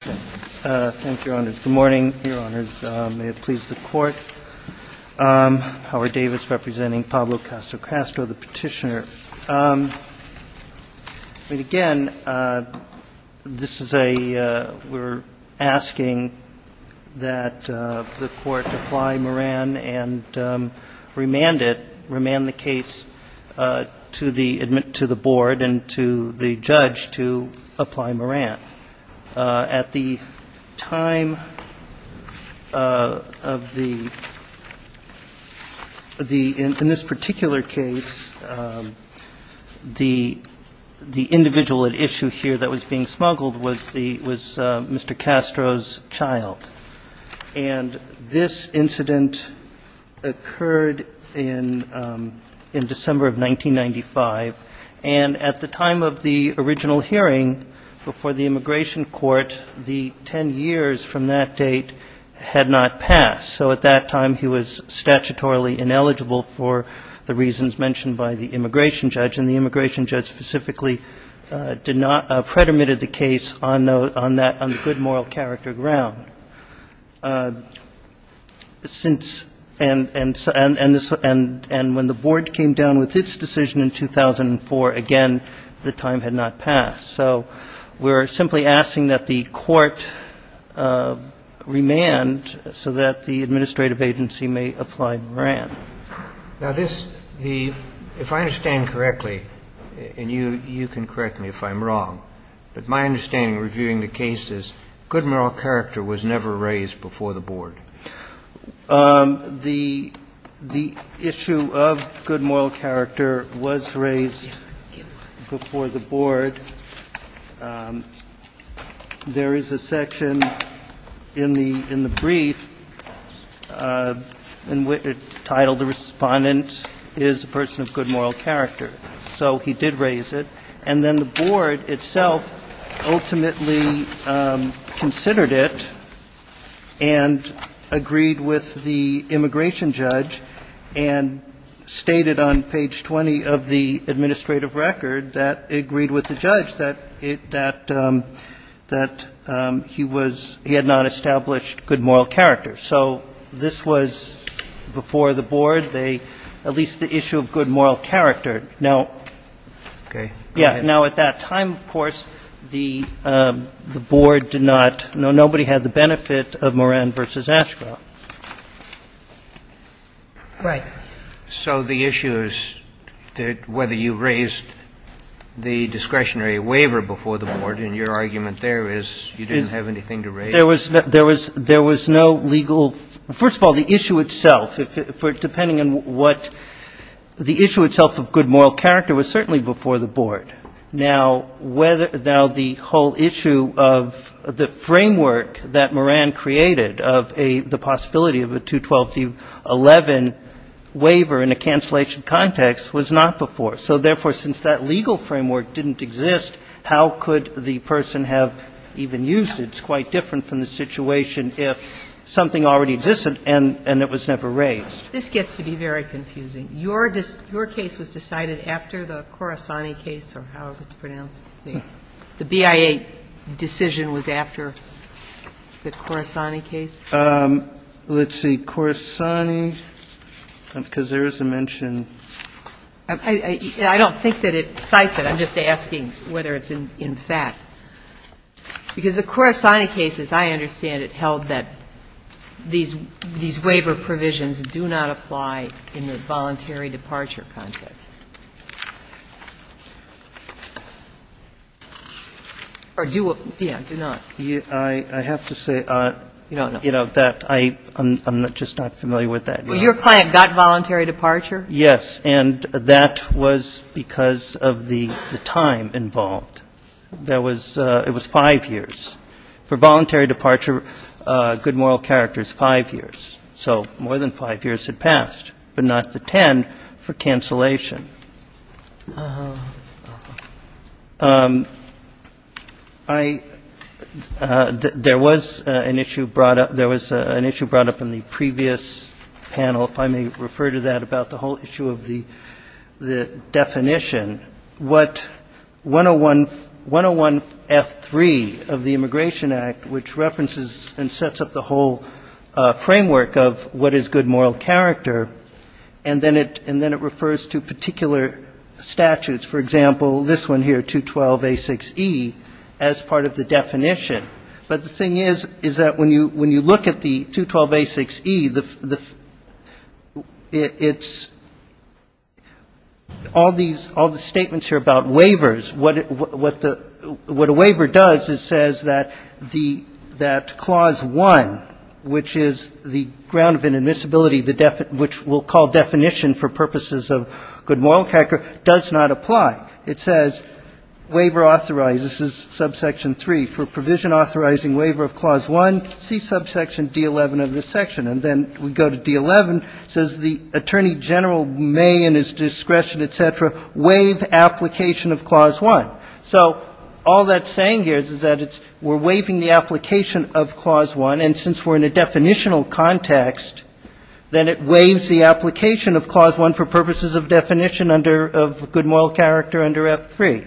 Thank you, Your Honors. Good morning, Your Honors. May it please the Court. Howard Davis representing Pablo Castro, the petitioner. Again, we're asking that the Court apply Moran and remand it, remand the case to the board and to the judge to apply Moran. At the time of the – in this particular case, the individual at issue here that was being smuggled was Mr. Castro's child. And this incident occurred in December of 1995. And at the time of the original hearing before the immigration court, the 10 years from that date had not passed. So at that time, he was statutorily ineligible for the reasons mentioned by the immigration judge. And the immigration judge specifically did not – predominated the case on the good moral character ground. Since – and when the board came down with its decision in 2004, again, the time had not passed. So we're simply asking that the Court remand so that the administrative agency may apply Moran. Now, this – the – if I understand correctly, and you can correct me if I'm wrong, but my understanding reviewing the case is good moral character was never raised before the board. The issue of good moral character was raised before the board. There is a section in the – in the brief entitled the respondent is a person of good moral character. So he did raise it. And then the board itself ultimately considered it and agreed with the immigration judge and stated on page 20 of the administrative record that it agreed with the judge. But the board did not acknowledge that it – that he was – he had not established good moral character. So this was before the board. They – at least the issue of good moral character. Now – Okay. Go ahead. Now, at that time, of course, the board did not – no, nobody had the benefit of Moran v. Ashcroft. Right. So the issue is that whether you raised the discretionary waiver before the board, and your argument there is you didn't have anything to raise. There was – there was no legal – first of all, the issue itself, depending on what – the issue itself of good moral character was certainly before the board. Now, whether – now, the whole issue of the framework that Moran created of a – the possibility of a 212-11 waiver in a cancellation context was not before. So therefore, since that legal framework didn't exist, how could the person have even used it? It's quite different from the situation if something already existed and it was never raised. This gets to be very confusing. Your case was decided after the Corisani case, or however it's pronounced. The BIA decision was after the Corisani case? Let's see. Corisani, because there is a mention. I don't think that it cites it. I'm just asking whether it's in fact. Because the Corisani case, as I understand it, held that these waiver provisions do not apply in the voluntary departure context. Or do – yeah, do not. I have to say that I'm just not familiar with that. Your client got voluntary departure? Yes. And that was because of the time involved. There was – it was five years. For voluntary departure, good moral character is five years. So more than five years had passed, but not the ten for cancellation. I – there was an issue brought up – there was an issue brought up in the previous panel, if I may refer to that, about the whole issue of the definition. What 101F3 of the Immigration Act, which references and sets up the whole framework of what is good moral character, and then it refers to particular statutes. For example, this one here, 212A6E, as part of the definition. But the thing is, is that when you look at the 212A6E, it's – all these – all these things are in the definition. The statements here about waivers, what the – what a waiver does is says that the – that Clause 1, which is the ground of inadmissibility, which we'll call definition for purposes of good moral character, does not apply. It says, waiver authorizes, this is subsection 3, for provision authorizing waiver of Clause 1, see subsection D11 of this section. And then we go to D11, says the Attorney General may in his discretion, et cetera, waive application of Clause 1. So all that's saying here is that it's – we're waiving the application of Clause 1, and since we're in a definitional context, then it waives the application of Clause 1 for purposes of definition under – of good moral character under F3.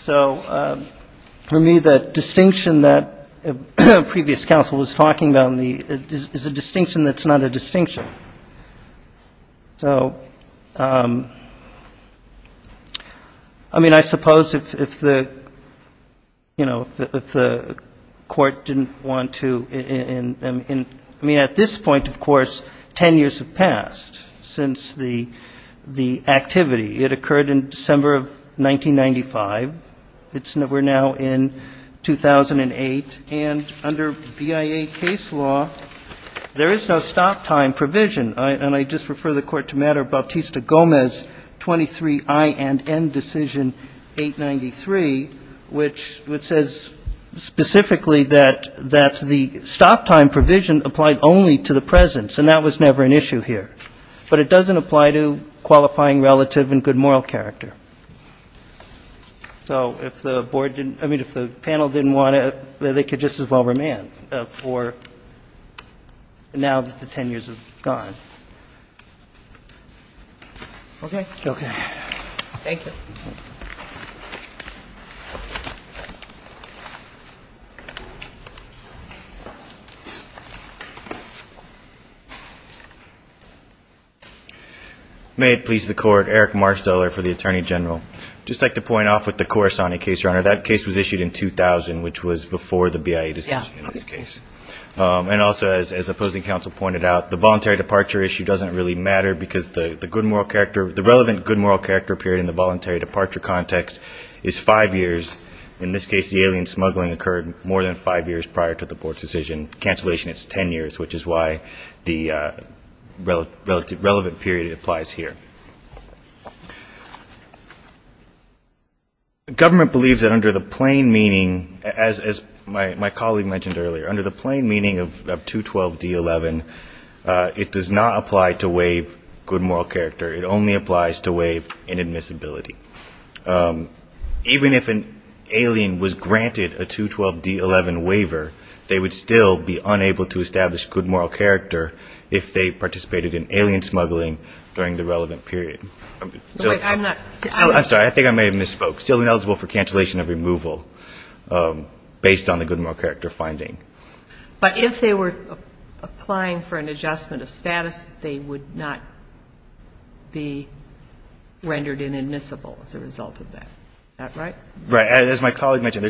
So for me, the distinction that previous counsel was talking about is a distinction that's not a distinction. So, I mean, I suppose if the, you know, if the Court didn't want to – I mean, at this point, of course, 10 years have passed since the activity. It occurred in December of 1995. It's – we're now in 2008. And under BIA case law, there is no stop time provision. And I just refer the Court to Matter of Bautista-Gomez 23I and N Decision 893, which says specifically that the stop time provision applied only to the presence, and that was never an issue here. But it doesn't apply to qualifying relative and good moral character. So if the Board didn't – I mean, if the panel didn't want to, they could just as well remand for now that the 10 years have gone. Okay? May it please the Court, Eric Marsteller for the Attorney General. I'd just like to point off with the Corisani case, Your Honor. That case was issued in 2000, which was before the BIA decision in this case. And also, as opposing counsel pointed out, the voluntary departure issue doesn't really matter because the good moral character – the relevant good moral character period in the voluntary departure context is five years. In this case, the alien smuggling occurred more than five years prior to the Board's decision. In cancellation, it's 10 years, which is why the relevant period applies here. Government believes that under the plain meaning, as my colleague mentioned earlier, under the plain meaning of 212D11, it does not apply to waive good moral character. It only applies to waive inadmissibility. Even if an alien was granted a 212D11 waiver, they would still be unable to establish good moral character if they participated in alien smuggling during the relevant period. I'm sorry. I think I may have misspoke. Still ineligible for cancellation of removal based on the good moral character finding. Is that right? Right. As my colleague mentioned,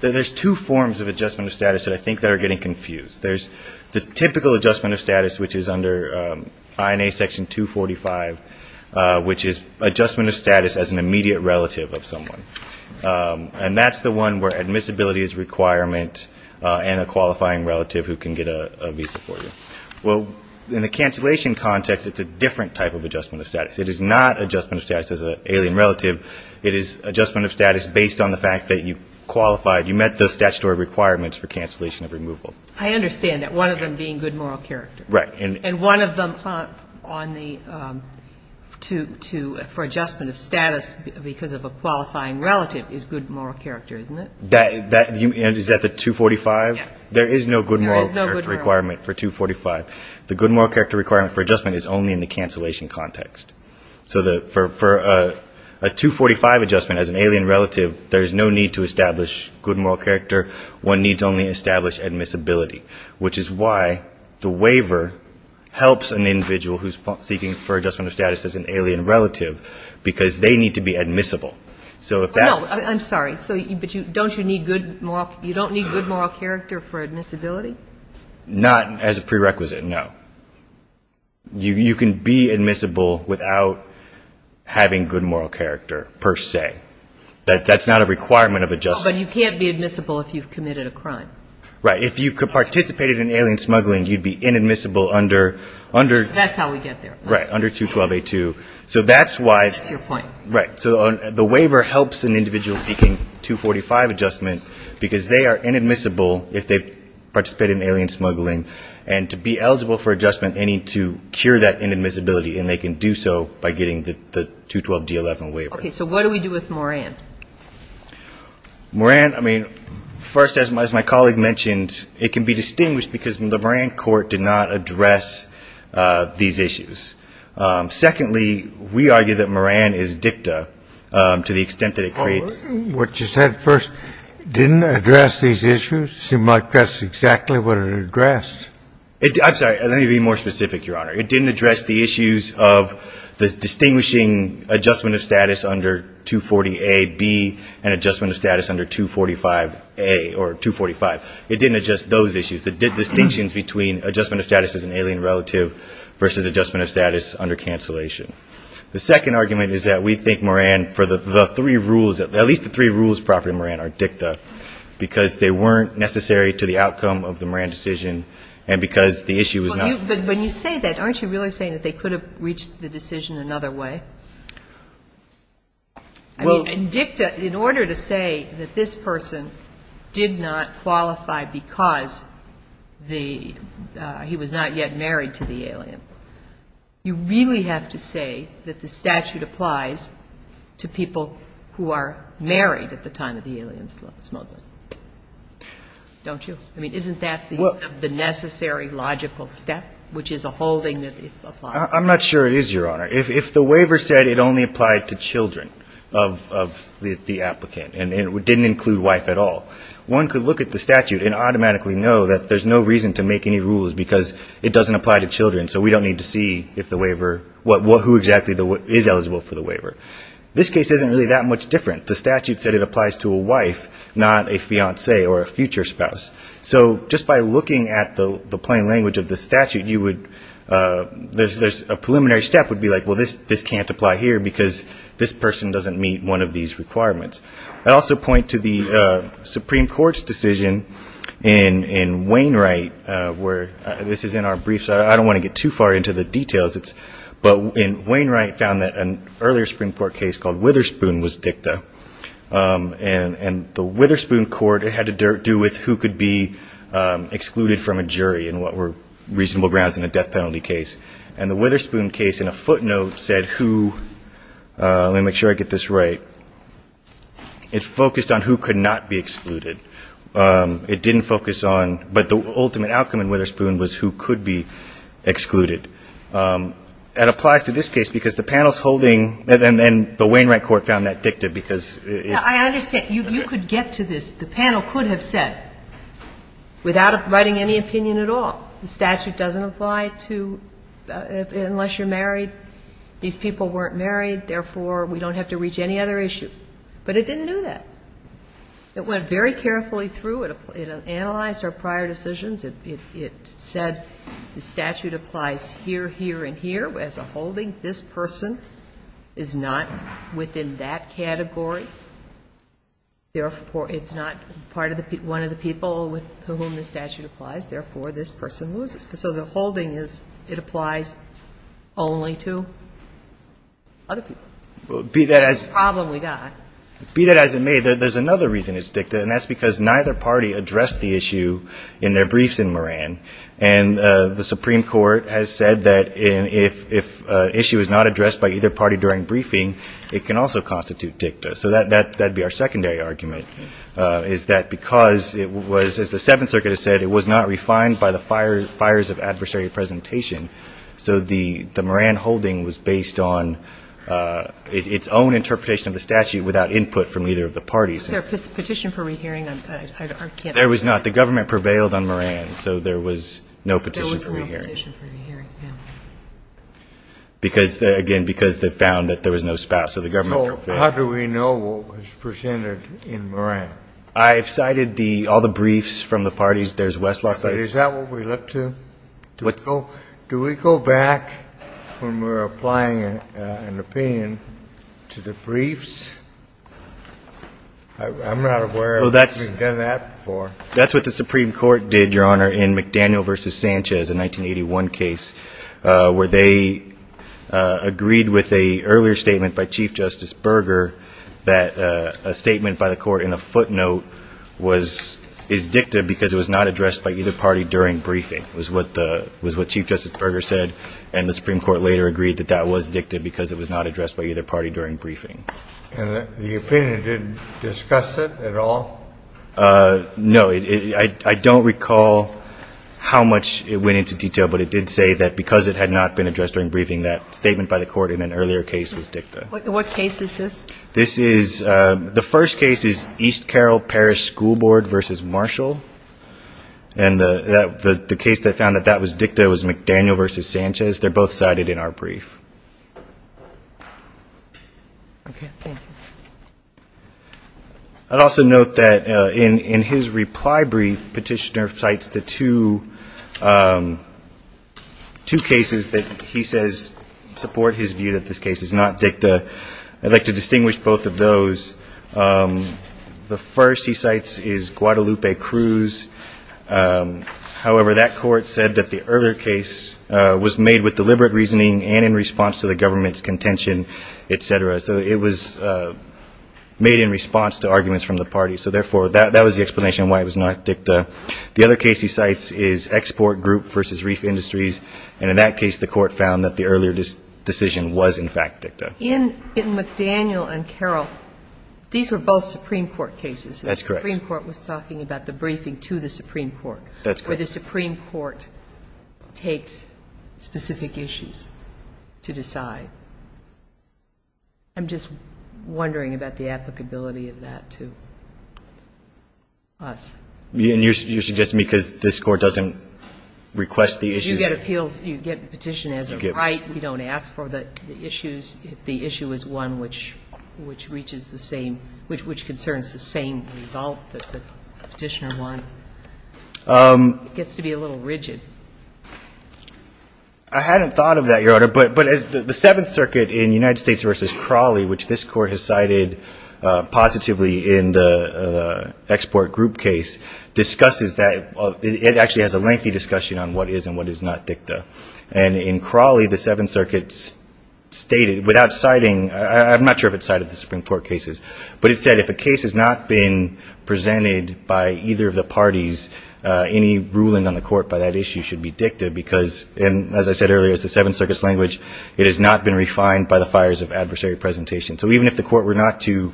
there's two forms of adjustment of status that I think are getting confused. There's the typical adjustment of status, which is under INA Section 245, which is adjustment of status as an immediate relative of someone. And that's the one where admissibility is a requirement and a qualifying relative who can get a visa for you. Well, in the cancellation context, it's a different type of adjustment of status. It is not adjustment of status as an alien relative. It is adjustment of status based on the fact that you qualified, you met the statutory requirements for cancellation of removal. I understand that, one of them being good moral character. Right. And one of them for adjustment of status because of a qualifying relative is good moral character, isn't it? Is that the 245? There is no good moral character requirement for 245. The good moral character requirement for adjustment is only in the cancellation context. So for a 245 adjustment as an alien relative, there's no need to establish good moral character. One needs only establish admissibility, which is why the waiver helps an individual who's seeking for adjustment of status as an alien relative, because they need to be admissible. No, I'm sorry. So don't you need good moral character for admissibility? Not as a prerequisite, no. You can be admissible without having good moral character per se. That's not a requirement of adjustment. No, but you can't be admissible if you've committed a crime. Right. If you participated in alien smuggling, you'd be inadmissible under 212A2. That's your point. Right. So the waiver helps an individual seeking 245 adjustment because they are inadmissible if they've participated in alien smuggling, and to be eligible for adjustment, they need to cure that inadmissibility, and they can do so by getting the 212D11 waiver. Okay. So what do we do with Moran? Moran, I mean, first, as my colleague mentioned, it can be distinguished because the Moran court did not address these issues. We argue that Moran is dicta to the extent that it creates... What you said first didn't address these issues. You might guess exactly what it addressed. I'm sorry. Let me be more specific, Your Honor. It didn't address the issues of the distinguishing adjustment of status under 240A, B, and adjustment of status under 245A or 245. It didn't address those issues, the distinctions between adjustment of status as an alien relative versus adjustment of status under cancellation. The second argument is that we think Moran, for the three rules, at least the three rules proper to Moran are dicta, because they weren't necessary to the outcome of the Moran decision, and because the issue was not... But when you say that, aren't you really saying that they could have reached the decision another way? Well... And dicta, in order to say that this person did not qualify because the, he was not yet married to the alien, you really have to say that this person did not qualify because he was not yet married to the alien. So you're saying that the statute applies to people who are married at the time of the alien smuggling, don't you? I mean, isn't that the necessary logical step, which is a holding that applies? I'm not sure it is, Your Honor. If the waiver said it only applied to children of the applicant, and it didn't include wife at all, one could look at the statute and automatically know that there's no reason to make any rules because it doesn't apply to children, so we don't need to see if the waiver, who exactly applied to whom. This case isn't really that much different. The statute said it applies to a wife, not a fiance or a future spouse. So just by looking at the plain language of the statute, you would, there's a preliminary step would be like, well, this can't apply here because this person doesn't meet one of these requirements. I'd also point to the Supreme Court's decision in Wainwright where, this is in our briefs, I don't want to get too far into the details, but in Wainwright, the Supreme Court's decision, I found that an earlier Supreme Court case called Witherspoon was dicta, and the Witherspoon court, it had to do with who could be excluded from a jury and what were reasonable grounds in a death penalty case. And the Witherspoon case in a footnote said who, let me make sure I get this right, it focused on who could not be excluded. It didn't focus on, but the ultimate outcome in Witherspoon was who could be excluded. It applies to this case because the panel's holding, and the Wainwright court found that dicta because it. I understand, you could get to this, the panel could have said, without writing any opinion at all, the statute doesn't apply to, unless you're married. These people weren't married, therefore we don't have to reach any other issue. But it didn't do that. It went very carefully through, it analyzed our prior decisions, it said the statute applies here, here, and here as a holding. This person is not within that category, therefore it's not part of the, one of the people with whom the statute applies, therefore this person loses. So the holding is, it applies only to other people. Be that as it may, there's another reason it's dicta, and that's because neither party addressed the issue in their briefs in Moran. And the Supreme Court has said that if an issue is not addressed by either party during briefing, it can also constitute dicta. So that would be our secondary argument, is that because it was, as the Seventh Circuit has said, it was not refined by the fires of adversary presentation, so the Moran holding was based on its own interpretation of the statute without input from either of the parties. Is there a petition for re-hearing? There was not. The government prevailed on Moran, so there was no petition for re-hearing. So how do we know what was presented in Moran? I've cited the, all the briefs from the parties. There's West Lost Ice. Is that what we look to? Do we go back when we're applying an opinion to the briefs? I'm not aware that we've done that before. That's what the Supreme Court did, Your Honor, in McDaniel v. Sanchez, a 1981 case, where they agreed with an earlier statement by Chief Justice Berger that a statement by the court in a footnote is dicta because it was not addressed by either party during briefing, was what Chief Justice Berger said. And the Supreme Court later agreed that that was dicta because it was not addressed by either party during briefing. And the opinion didn't discuss it at all? No. I don't recall how much it went into detail, but it did say that because it had not been addressed during briefing, that statement by the court in an earlier case was dicta. What case is this? This is, the first case is East Carroll Parish School Board v. Marshall, and the case that found that that was dicta was McDaniel v. Sanchez. They're both cited in our brief. I'd also note that in his reply brief, Petitioner cites the two cases that he says support his view that this case is not dicta. I'd like to distinguish both of those. The first he cites is Guadalupe Cruz. He said, the case was not dicta because it was both a matter of deliberate reasoning and in response to the government's contention, etc. So it was made in response to arguments from the party, so therefore, that was the explanation why it was not dicta. And in that case, the court found that the earlier decision was, in fact, dicta. In McDaniel and Carroll, these were both Supreme Court cases. And the Supreme Court was talking about the briefing to the Supreme Court, where the Supreme Court takes specific issues to decide. I'm just wondering about the applicability of that to us. And you're suggesting because this Court doesn't request the issues. You get appeals, you get petition as a right. We don't ask for the issues if the issue is one which reaches the same, which concerns the same result that the petitioner wants. It gets to be a little rigid. I hadn't thought of that, Your Honor. But the Seventh Circuit in United States v. Crowley, which this Court has cited positively in the Export Group case, discusses that. It actually has a lengthy discussion on what is and what is not dicta. And in Crowley, the Seventh Circuit stated, without citing, I'm not sure if it cited the Supreme Court cases, but it said, if a case has not been presented by either of the parties, any ruling on the Court by that issue should be dicta, because, as I said earlier, it's the Seventh Circuit's language, it has not been refined by the fires of adversary presentation. So even if the Court were not to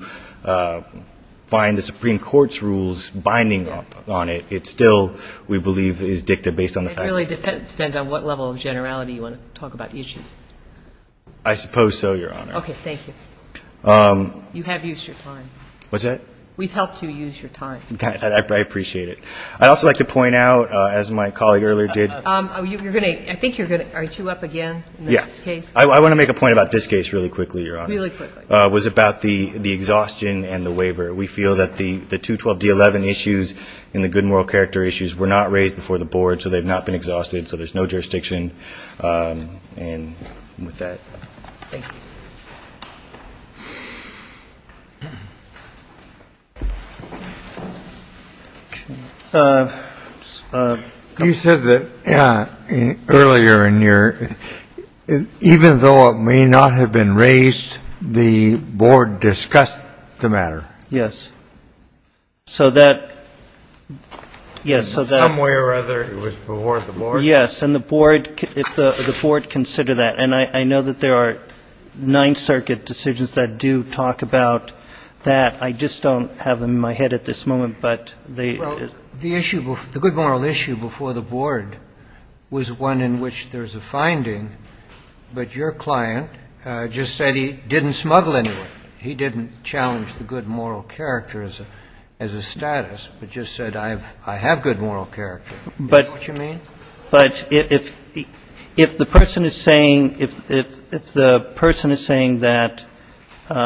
find the Supreme Court's rules binding on it, it still, we believe, is dicta based on the facts. It really depends on what level of generality you want to talk about issues. I suppose so, Your Honor. Okay. Thank you. You have used your time. What's that? We've helped you use your time. I appreciate it. I'd also like to point out, as my colleague earlier did. I want to make a point about this case really quickly, Your Honor. It was about the exhaustion and the waiver. We feel that the 212D11 issues and the good moral character issues were not raised before the Board, so they've not been exhausted, so there's no jurisdiction with that. You said that earlier in your, even though it may not have been raised, the Board discussed the matter. Yes. Somewhere or other it was before the Board? Yes, and the Board considered that, and I know that there are Ninth Circuit decisions that do talk about that. I just don't have them in my head at this moment, but they do. The good moral issue before the Board was one in which there's a finding, but your client just said he didn't smuggle anyone. He didn't challenge the good moral character as a status, but just said I have good moral character. Is that what you mean? But if the person is saying that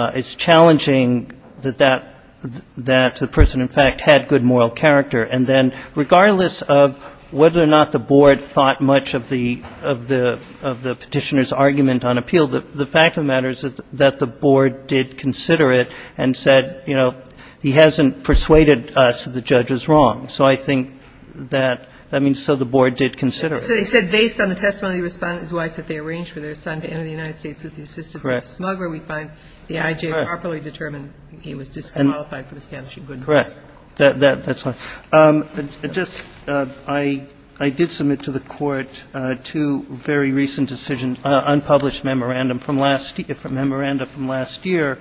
it's challenging that the person in fact had good moral character, and then regardless of whether or not the Board thought much of the Petitioner's argument on appeal, the fact of the matter is that the Board did consider it and said, you know, he hasn't persuaded us that the judge was wrong, so I think that, I mean, so the Board did consider it. So they said based on the testimony of his wife that they arranged for their son to enter the United States with the assistance of a smuggler, we find the IJ properly determined he was disqualified from establishing good moral character. That's fine. I did submit to the Court two very recent decisions, unpublished memorandum from last year.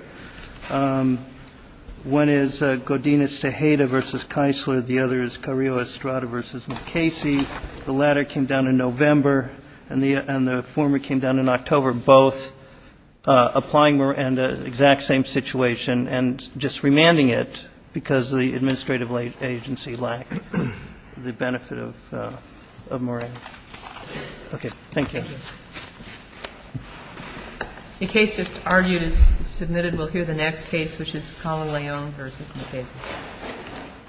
One is Godinez Tejeda v. Keisler, the other is Carrillo Estrada v. McCasey. The latter came down in November, and the former came down in October, both applying the exact same situation and just remanding it because the administrative agency lacked the benefit of moratorium. Okay. Thank you. The case just argued is submitted. We'll hear the next case, which is Cala Leone v. McCasey.